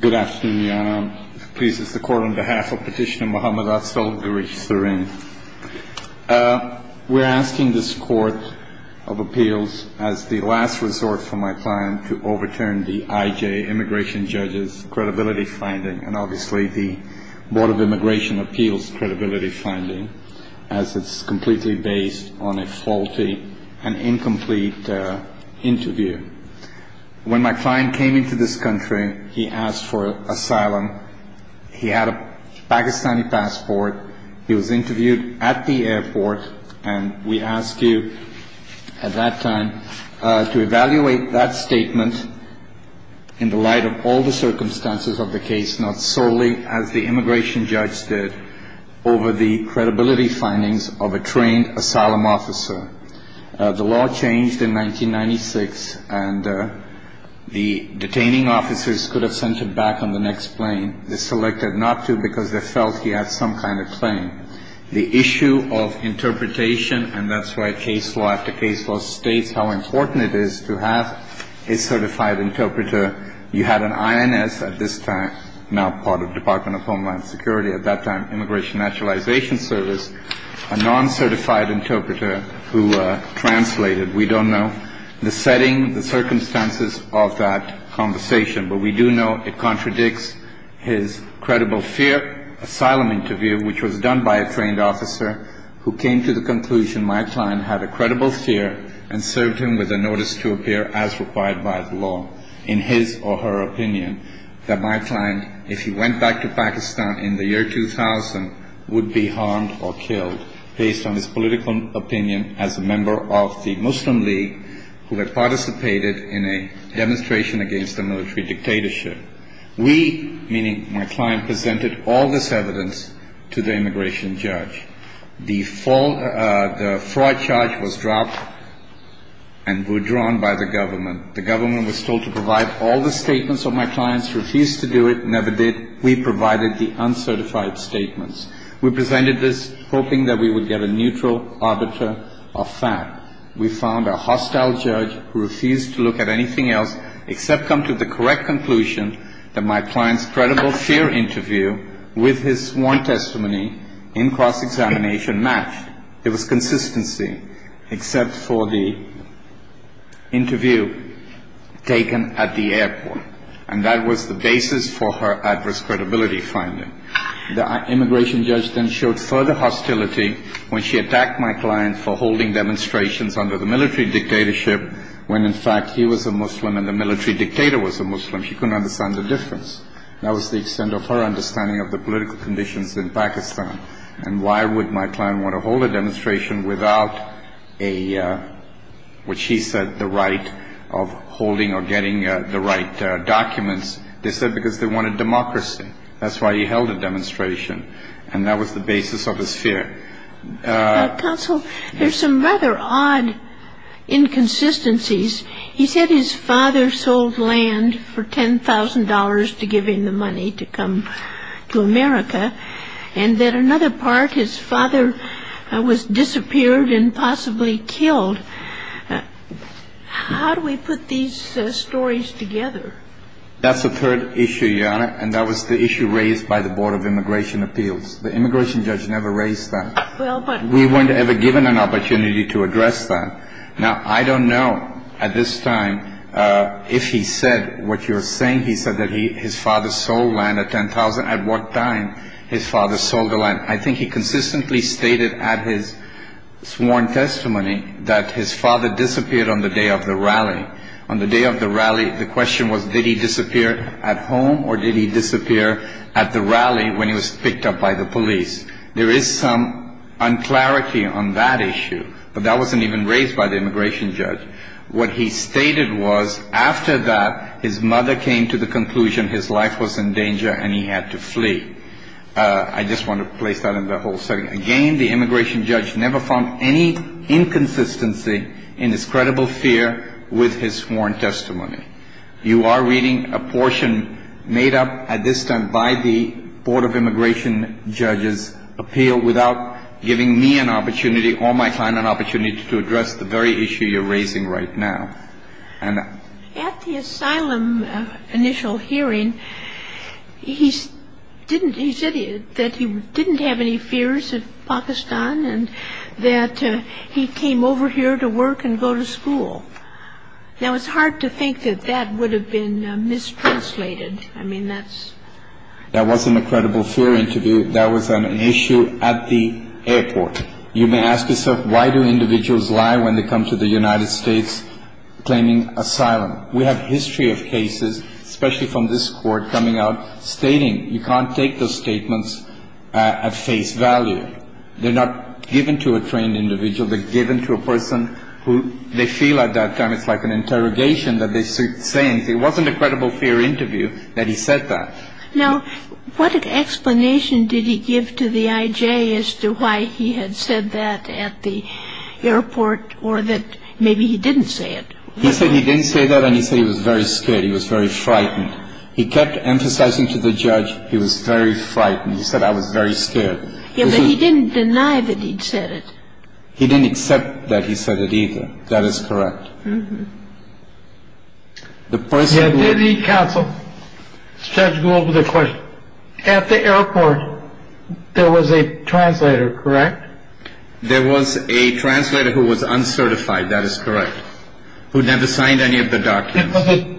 Good afternoon, Your Honor. Please, it's the court on behalf of Petitioner Mohammad Azzolgari-Serin. We're asking this Court of Appeals, as the last resort for my client, to overturn the I.J. Immigration Judge's credibility finding, and obviously the Board of Immigration Appeals' credibility finding, as it's completely based on a incomplete interview. When my client came into this country, he asked for asylum. He had a Pakistani passport. He was interviewed at the airport, and we ask you, at that time, to evaluate that statement in the light of all the circumstances of the case, not solely as the immigration judge did, over the credibility findings of a trained asylum officer. The law changed in 1996, and the detaining officers could have sent him back on the next plane. They selected not to because they felt he had some kind of claim. The issue of interpretation, and that's why case law after case law states how important it is to have a certified interpreter. You had an INS at this time, now part of translated. We don't know the setting, the circumstances of that conversation, but we do know it contradicts his credible fear asylum interview, which was done by a trained officer who came to the conclusion my client had a credible fear and served him with a notice to appear as required by the law, in his or her opinion, that my client, if he went back to Pakistan in the year 2000, would be harmed or killed based on his political opinion as a member of the Muslim League who had participated in a demonstration against the military dictatorship. We, meaning my client, presented all this evidence to the immigration judge. The fraud charge was dropped and withdrawn by the government. The government was told to provide all the statements of my clients, refused to do it, never did. We provided the uncertified statements. We presented this hoping that we would get a neutral arbiter of fact. We found a hostile judge who refused to look at anything else except come to the correct conclusion that my client's credible fear interview with his sworn testimony in cross-examination matched. It was consistency, except for the interview taken at the airport. And that was the basis for her adverse credibility finding. The immigration judge then showed further hostility when she attacked my client for holding demonstrations under the military dictatorship when, in fact, he was a Muslim and the military dictator was a Muslim. She couldn't understand the difference. That was the extent of her understanding of the political conditions in Pakistan. And why would my they said because they wanted democracy. That's why he held a demonstration. And that was the basis of his fear. Counsel, there's some rather odd inconsistencies. He said his father sold land for $10,000 to give him the money to come to America. And that another part, his father was disappeared and possibly killed. How do we put these stories together? That's the third issue, Your Honor. And that was the issue raised by the Board of Immigration Appeals. The immigration judge never raised that. We weren't ever given an opportunity to address that. Now, I don't know at this time if he said what you're saying. He said that his father sold land at $10,000. At what time his father sold the land? I think he consistently stated at his sworn testimony that his father disappeared on the day of the rally. On the day of the rally, the question was, did he disappear at home or did he disappear at the rally when he was picked up by the police? There is some unclarity on that issue. But that wasn't even raised by the immigration judge. What he stated was, after that, his mother came to the conclusion his life was in danger and he had to flee. I just want to place that in the whole setting. Again, the immigration judge never found any inconsistency in his credible fear with his sworn testimony. You are reading a portion made up at this time by the Board of Immigration Judges' appeal without giving me an opportunity or my client an opportunity to address the very issue you're raising right now. At the asylum initial hearing, he said that he didn't have any fears of Pakistan and that he came over here to work and go to school. Now, it's hard to think that that would have been mistranslated. I mean, that's... That wasn't a credible fear interview. That was an issue at the airport. You may ask yourself, why do individuals lie when they come to the United States claiming asylum? We have history of cases, especially from this court, coming out stating you can't take those statements at face value. They're not given to a trained individual. They're given to a person who they feel at that time it's like an interrogation that they're saying. It wasn't a credible fear interview that he said that. Now, what explanation did he give to the I.J. as to why he had said that at the airport or that maybe he didn't say it? He said he didn't say that and he said he was very scared. He was very frightened. He kept emphasizing to the judge he was very frightened. He said I was very scared. Yeah, but he didn't deny that he'd said it. He didn't accept that he said it either. That is correct. The person... Did the counsel, judge, go over the question? At the airport, there was a translator, correct? There was a translator who was uncertified. That is correct. Who never signed any of the documents.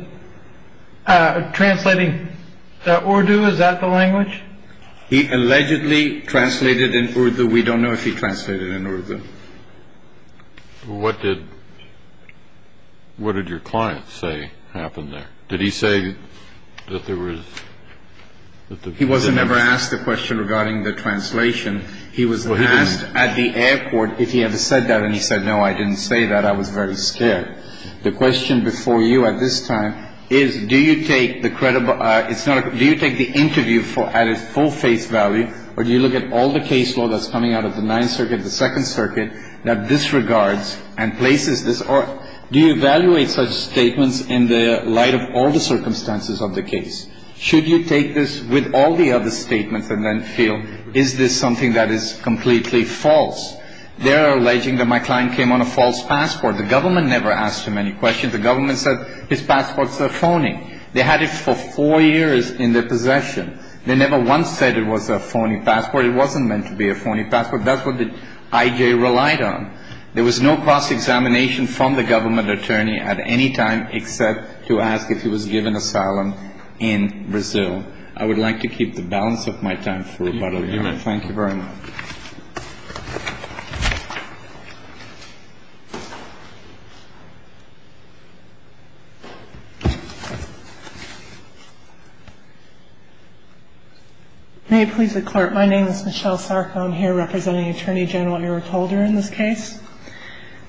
Translating that Urdu, is that the language? He allegedly translated in Urdu. We don't know if he translated in Urdu. What did what did your client say happened there? Did he say that there was... He wasn't ever asked the question regarding the translation. He was asked at the airport if he ever said that. And he said, no, I didn't say that. I was very scared. The question before you at this time is, do you take the credible... Do you take the interview at its full face value or do you look at all the case law that's coming out of the 9th Circuit, the 2nd Circuit, that disregards and places this... Do you evaluate such statements in the light of all the circumstances of the case? Should you take this with all the other statements and then feel, is this something that is completely false? They're alleging that my client came on a false passport. The government never asked him any questions. The government said his passport is phony. They had it for four years in their possession. They never once said it was a phony passport. It wasn't meant to be a phony passport. That's what the IJ relied on. There was no cross-examination from the government attorney at any time except to ask if he was given asylum in Brazil. I would like to keep the balance of my time for about a minute. Thank you very much. May it please the Court. My name is Michelle Sarko. I'm here representing Attorney General Eric Holder in this case.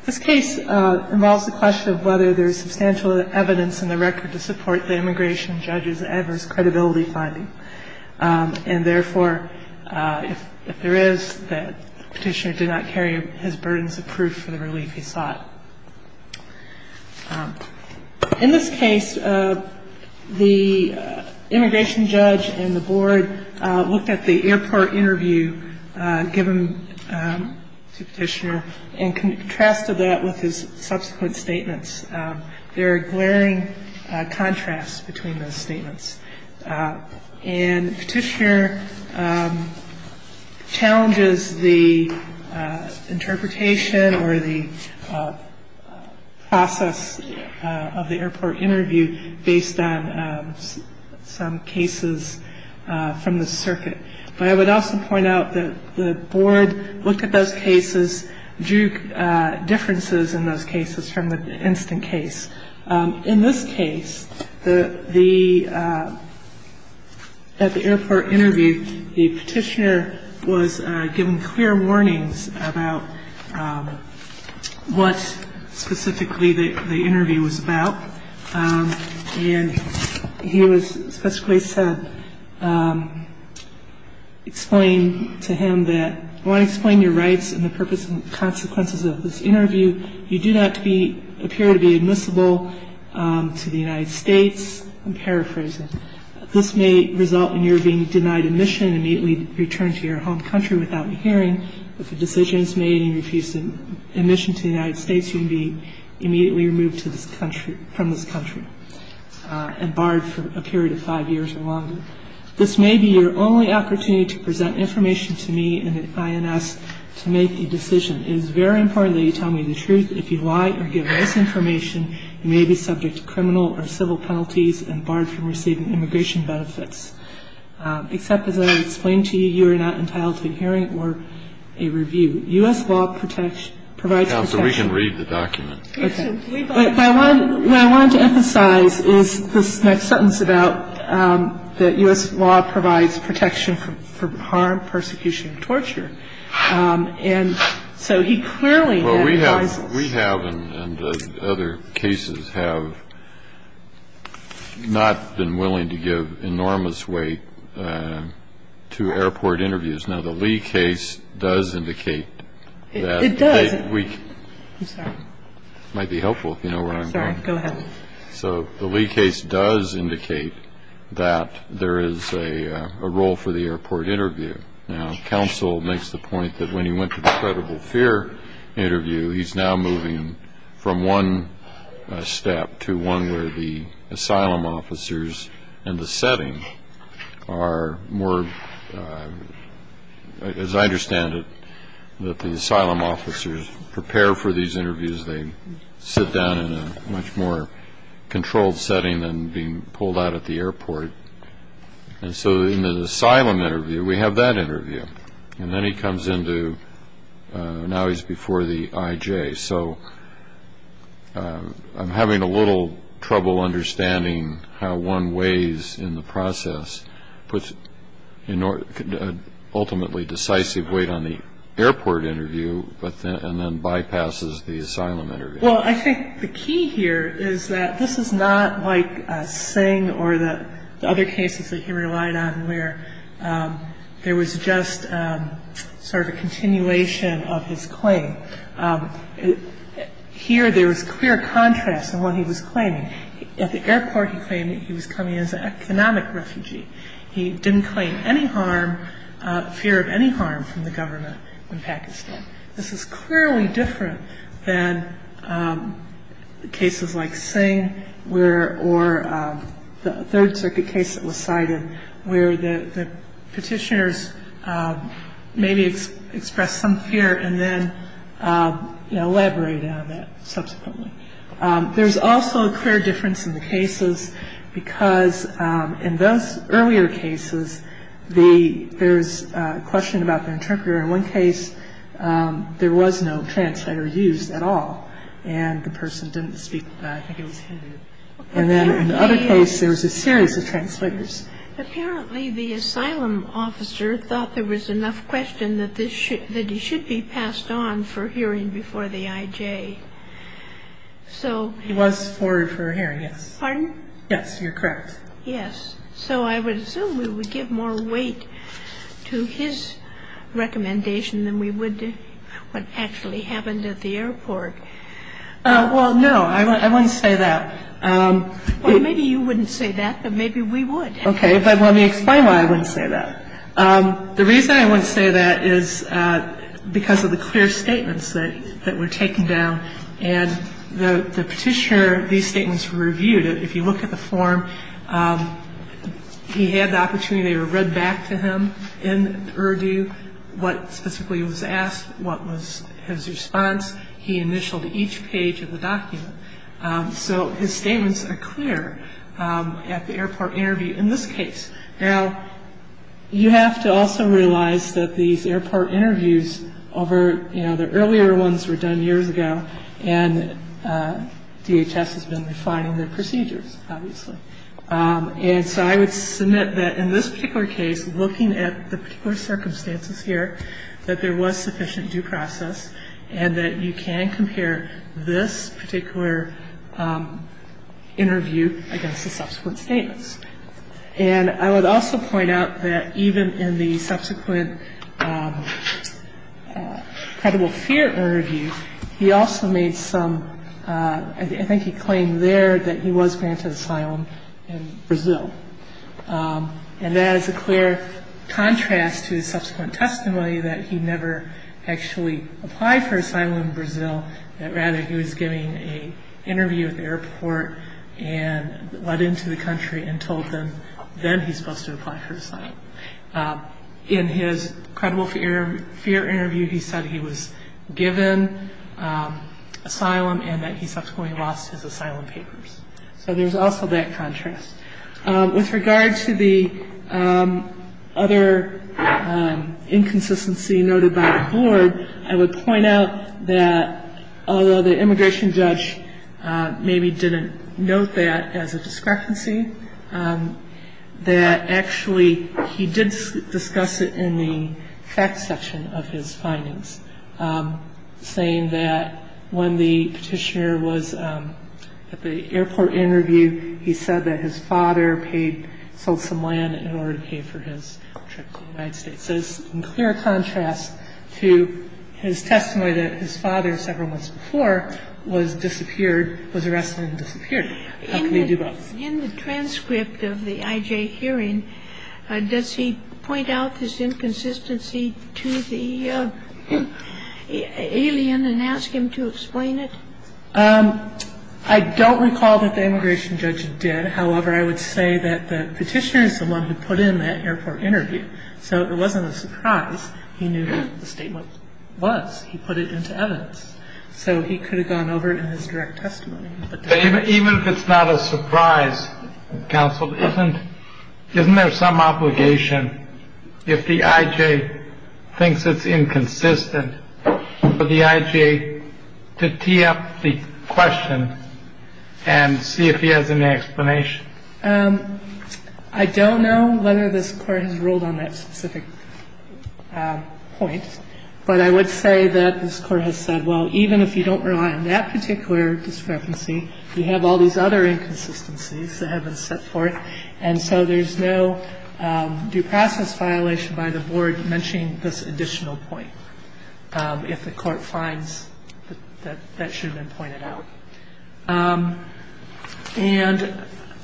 This case involves the question of whether there is substantial evidence in the record to support the immigration judge's adverse credibility finding. And therefore, if there is, the petitioner did not carry his burdens of proof for the relief he sought. In this case, the immigration judge and the board looked at the airport interview given to the petitioner and contrasted that with his And the petitioner challenges the interpretation or the process of the airport interview based on some cases from the circuit. But I would also point out that the board looked at those cases, drew differences in those cases from the instant case. In this case, at the airport interview, the petitioner was given clear warnings about what specifically the interview was about. And he was specifically said, explain to him that, I want to explain your rights and the purpose and consequences of this interview. You do not appear to be admissible to the United States. I'm paraphrasing. This may result in your being denied admission and immediately returned to your home country without a hearing. If a decision is made and you refuse admission to the United States, you can be immediately removed from this country and barred for a period of five years or longer. This may be your only opportunity to present information to me and the INS to make the decision. It is very important that you tell me the truth. If you lie or give false information, you may be subject to criminal or civil penalties and barred from receiving immigration benefits. Except as I explained to you, you are not entitled to a hearing or a review. U.S. law provides protection. Counsel, we can read the document. Okay. What I wanted to emphasize is this next sentence about that U.S. law provides protection from harm, persecution, and torture. And so he clearly had a license. Well, we have and other cases have not been willing to give enormous weight to airport interviews. Now, the Lee case does indicate that. It does. I'm sorry. It might be helpful if you know where I'm going. Sorry. Go ahead. So the Lee case does indicate that there is a role for the airport interview. Now, counsel makes the point that when he went to the credible fear interview, he's now moving from one step to one where the asylum officers in the setting are more, as I understand it, that the asylum officers prepare for these interviews. They sit down in a much more controlled setting than being pulled out at the airport. And so in an asylum interview, we have that interview. And then he comes into – now he's before the IJ. So I'm having a little trouble understanding how one weighs in the process, puts an ultimately decisive weight on the airport interview and then bypasses the asylum interview. Well, I think the key here is that this is not like Singh or the other cases that he relied on where there was just sort of a continuation of his claim. Here, there was clear contrast in what he was claiming. At the airport, he claimed that he was coming as an economic refugee. He didn't claim any harm, fear of any harm from the government in Pakistan. This is clearly different than cases like Singh or the Third Circuit case that was cited where the petitioners maybe expressed some fear and then elaborated on that subsequently. There's also a clear difference in the cases because in those earlier cases, there's a question about the interpreter. In one case, there was no translator used at all, and the person didn't speak – I think it was him. And then in the other case, there was a series of translators. Apparently, the asylum officer thought there was enough question that he should be passed on for hearing before the IJ. He was forwarded for a hearing, yes. Pardon? Yes, you're correct. Yes. So I would assume we would give more weight to his recommendation than we would to what actually happened at the airport. Well, no, I wouldn't say that. Well, maybe you wouldn't say that, but maybe we would. Okay, but let me explain why I wouldn't say that. The reason I wouldn't say that is because of the clear statements that were taken down. And the petitioner, these statements were reviewed. If you look at the form, he had the opportunity to read back to him in Urdu what specifically was asked, what was his response. He initialed each page of the document. So his statements are clear at the airport interview in this case. Now, you have to also realize that these airport interviews over, you know, earlier ones were done years ago, and DHS has been refining their procedures, obviously. And so I would submit that in this particular case, looking at the particular circumstances here, that there was sufficient due process and that you can compare this particular interview against the subsequent statements. And I would also point out that even in the subsequent credible fear interview, he also made some, I think he claimed there that he was granted asylum in Brazil. And that is a clear contrast to the subsequent testimony that he never actually applied for asylum in Brazil, that rather he was giving an interview at the airport and led into the country and told them, then he's supposed to apply for asylum. In his credible fear interview, he said he was given asylum and that he subsequently lost his asylum papers. So there's also that contrast. With regard to the other inconsistency noted by the board, I would point out that although the immigration judge maybe didn't note that as a discrepancy, that actually he did discuss it in the facts section of his findings, saying that when the petitioner was at the airport interview, he said that his father paid, sold some land in order to pay for his trip to the United States. So it's in clear contrast to his testimony that his father, several months before, was disappeared, was arrested and disappeared. How can they do both? In the transcript of the IJ hearing, does he point out this inconsistency to the alien and ask him to explain it? I don't recall that the immigration judge did. However, I would say that the petitioner is the one who put in that airport interview. So it wasn't a surprise. He knew what the statement was. He put it into evidence. So he could have gone over it in his direct testimony. Even if it's not a surprise, counsel, isn't there some obligation, if the IJ thinks it's inconsistent for the IJ to tee up the question and see if he has any explanation? I don't know whether this Court has ruled on that specific point. But I would say that this Court has said, well, even if you don't rely on that particular discrepancy, you have all these other inconsistencies that have been set forth. And so there's no due process violation by the Board mentioning this additional point, if the Court finds that that should have been pointed out. And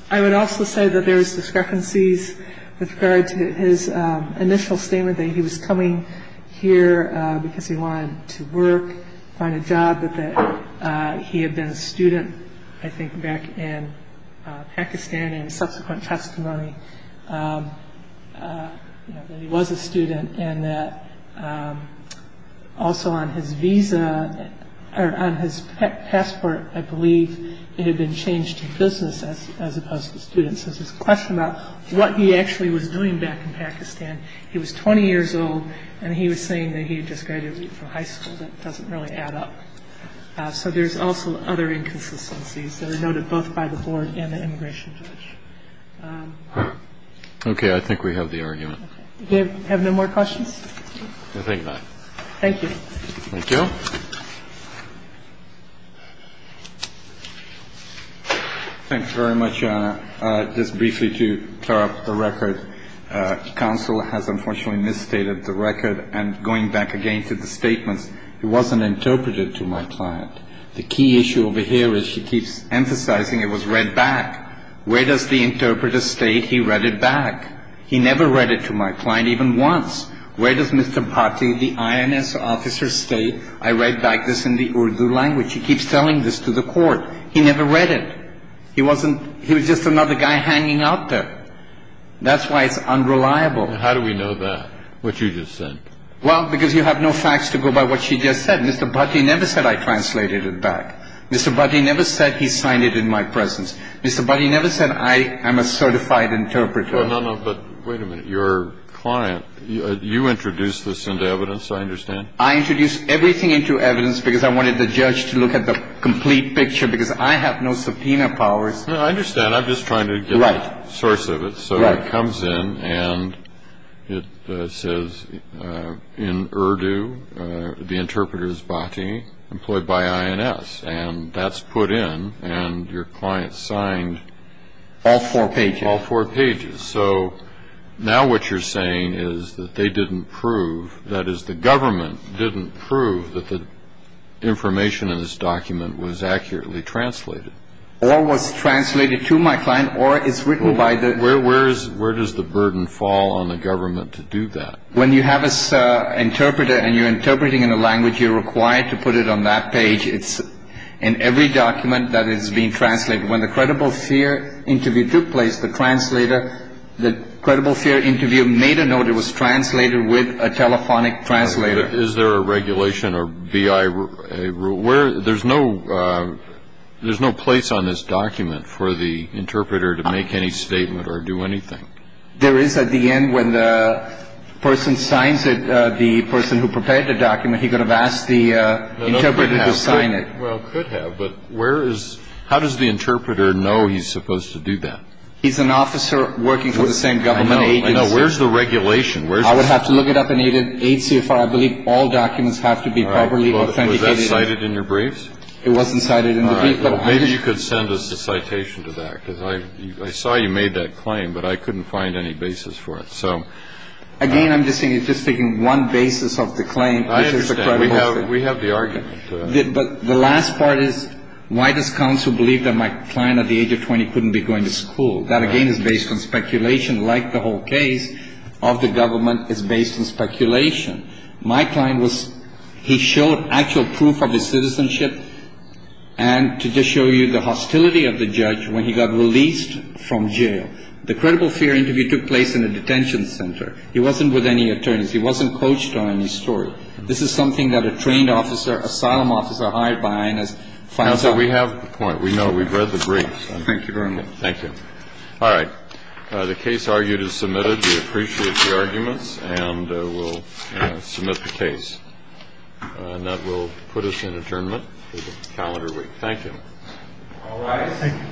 I would also say that there's discrepancies with regard to his initial statement that he was coming here because he wanted to work, find a job, that he had been a student, I think, back in Pakistan, and in subsequent testimony that he was a student, and that also on his passport, I believe, it had been changed to business as opposed to student. So there's this question about what he actually was doing back in Pakistan. He was 20 years old, and he was saying that he had just graduated from high school. That doesn't really add up. So there's also other inconsistencies that are noted both by the Board and the immigration judge. Kennedy. Okay. I think we have the argument. Do you have no more questions? I think not. Thank you. Thank you. Thank you very much, Your Honor. Just briefly to clear up the record. Counsel has unfortunately misstated the record. And going back again to the statements, it wasn't interpreted to my client. The key issue over here is she keeps emphasizing it was read back. Where does the interpreter state he read it back? He never read it to my client even once. Where does Mr. Bhatti, the INS officer, state I read back this information? He keeps telling this to the court. He never read it. He was just another guy hanging out there. That's why it's unreliable. How do we know that, what you just said? Well, because you have no facts to go by what she just said. Mr. Bhatti never said I translated it back. Mr. Bhatti never said he signed it in my presence. Mr. Bhatti never said I am a certified interpreter. No, no, no. But wait a minute. Your client, you introduced this into evidence, I understand. I introduced everything into evidence because I wanted the judge to look at the complete picture, because I have no subpoena powers. No, I understand. I'm just trying to get the source of it. So it comes in and it says, in Urdu, the interpreter is Bhatti, employed by INS. And that's put in, and your client signed all four pages. All four pages. So now what you're saying is that they didn't prove, that is the government didn't prove that the information in this document was accurately translated. Or was translated to my client, or it's written by the- Where does the burden fall on the government to do that? When you have an interpreter and you're interpreting in a language, you're required to put it on that page. It's in every document that is being translated. When the credible fear interview took place, the translator, the credible fear interview made a note, it was translated with a telephonic translator. Is there a regulation or BI rule? There's no place on this document for the interpreter to make any statement or do anything. There is at the end when the person signs it, the person who prepared the document, he could have asked the interpreter to sign it. Well, could have, but where is, how does the interpreter know he's supposed to do that? He's an officer working for the same government agency. I know, I know. Where's the regulation? I would have to look it up in HCFR. I believe all documents have to be properly authenticated. Was that cited in your briefs? It wasn't cited in the brief, but- Maybe you could send us a citation to that, because I saw you made that claim, but I couldn't find any basis for it. Again, I'm just thinking one basis of the claim, which is the credible fear. I understand. We have the argument. But the last part is, why does counsel believe that my client at the age of 20 couldn't be going to school? That, again, is based on speculation, like the whole case of the government is based on speculation. My client was, he showed actual proof of his citizenship, and to just show you the hostility of the judge when he got released from jail. The credible fear interview took place in a detention center. He wasn't with any attorneys. He wasn't coached on any story. This is something that a trained officer, asylum officer hired by INS- Counsel, we have the point. We know. We've read the briefs. Thank you very much. Thank you. All right. The case argued is submitted. We appreciate the arguments, and we'll submit the case. And that will put us in adjournment for the calendar week. Thank you. All rise. Thank you. Thank you. Thank you. All right. Now we're adjourned. All right. I'll call you back.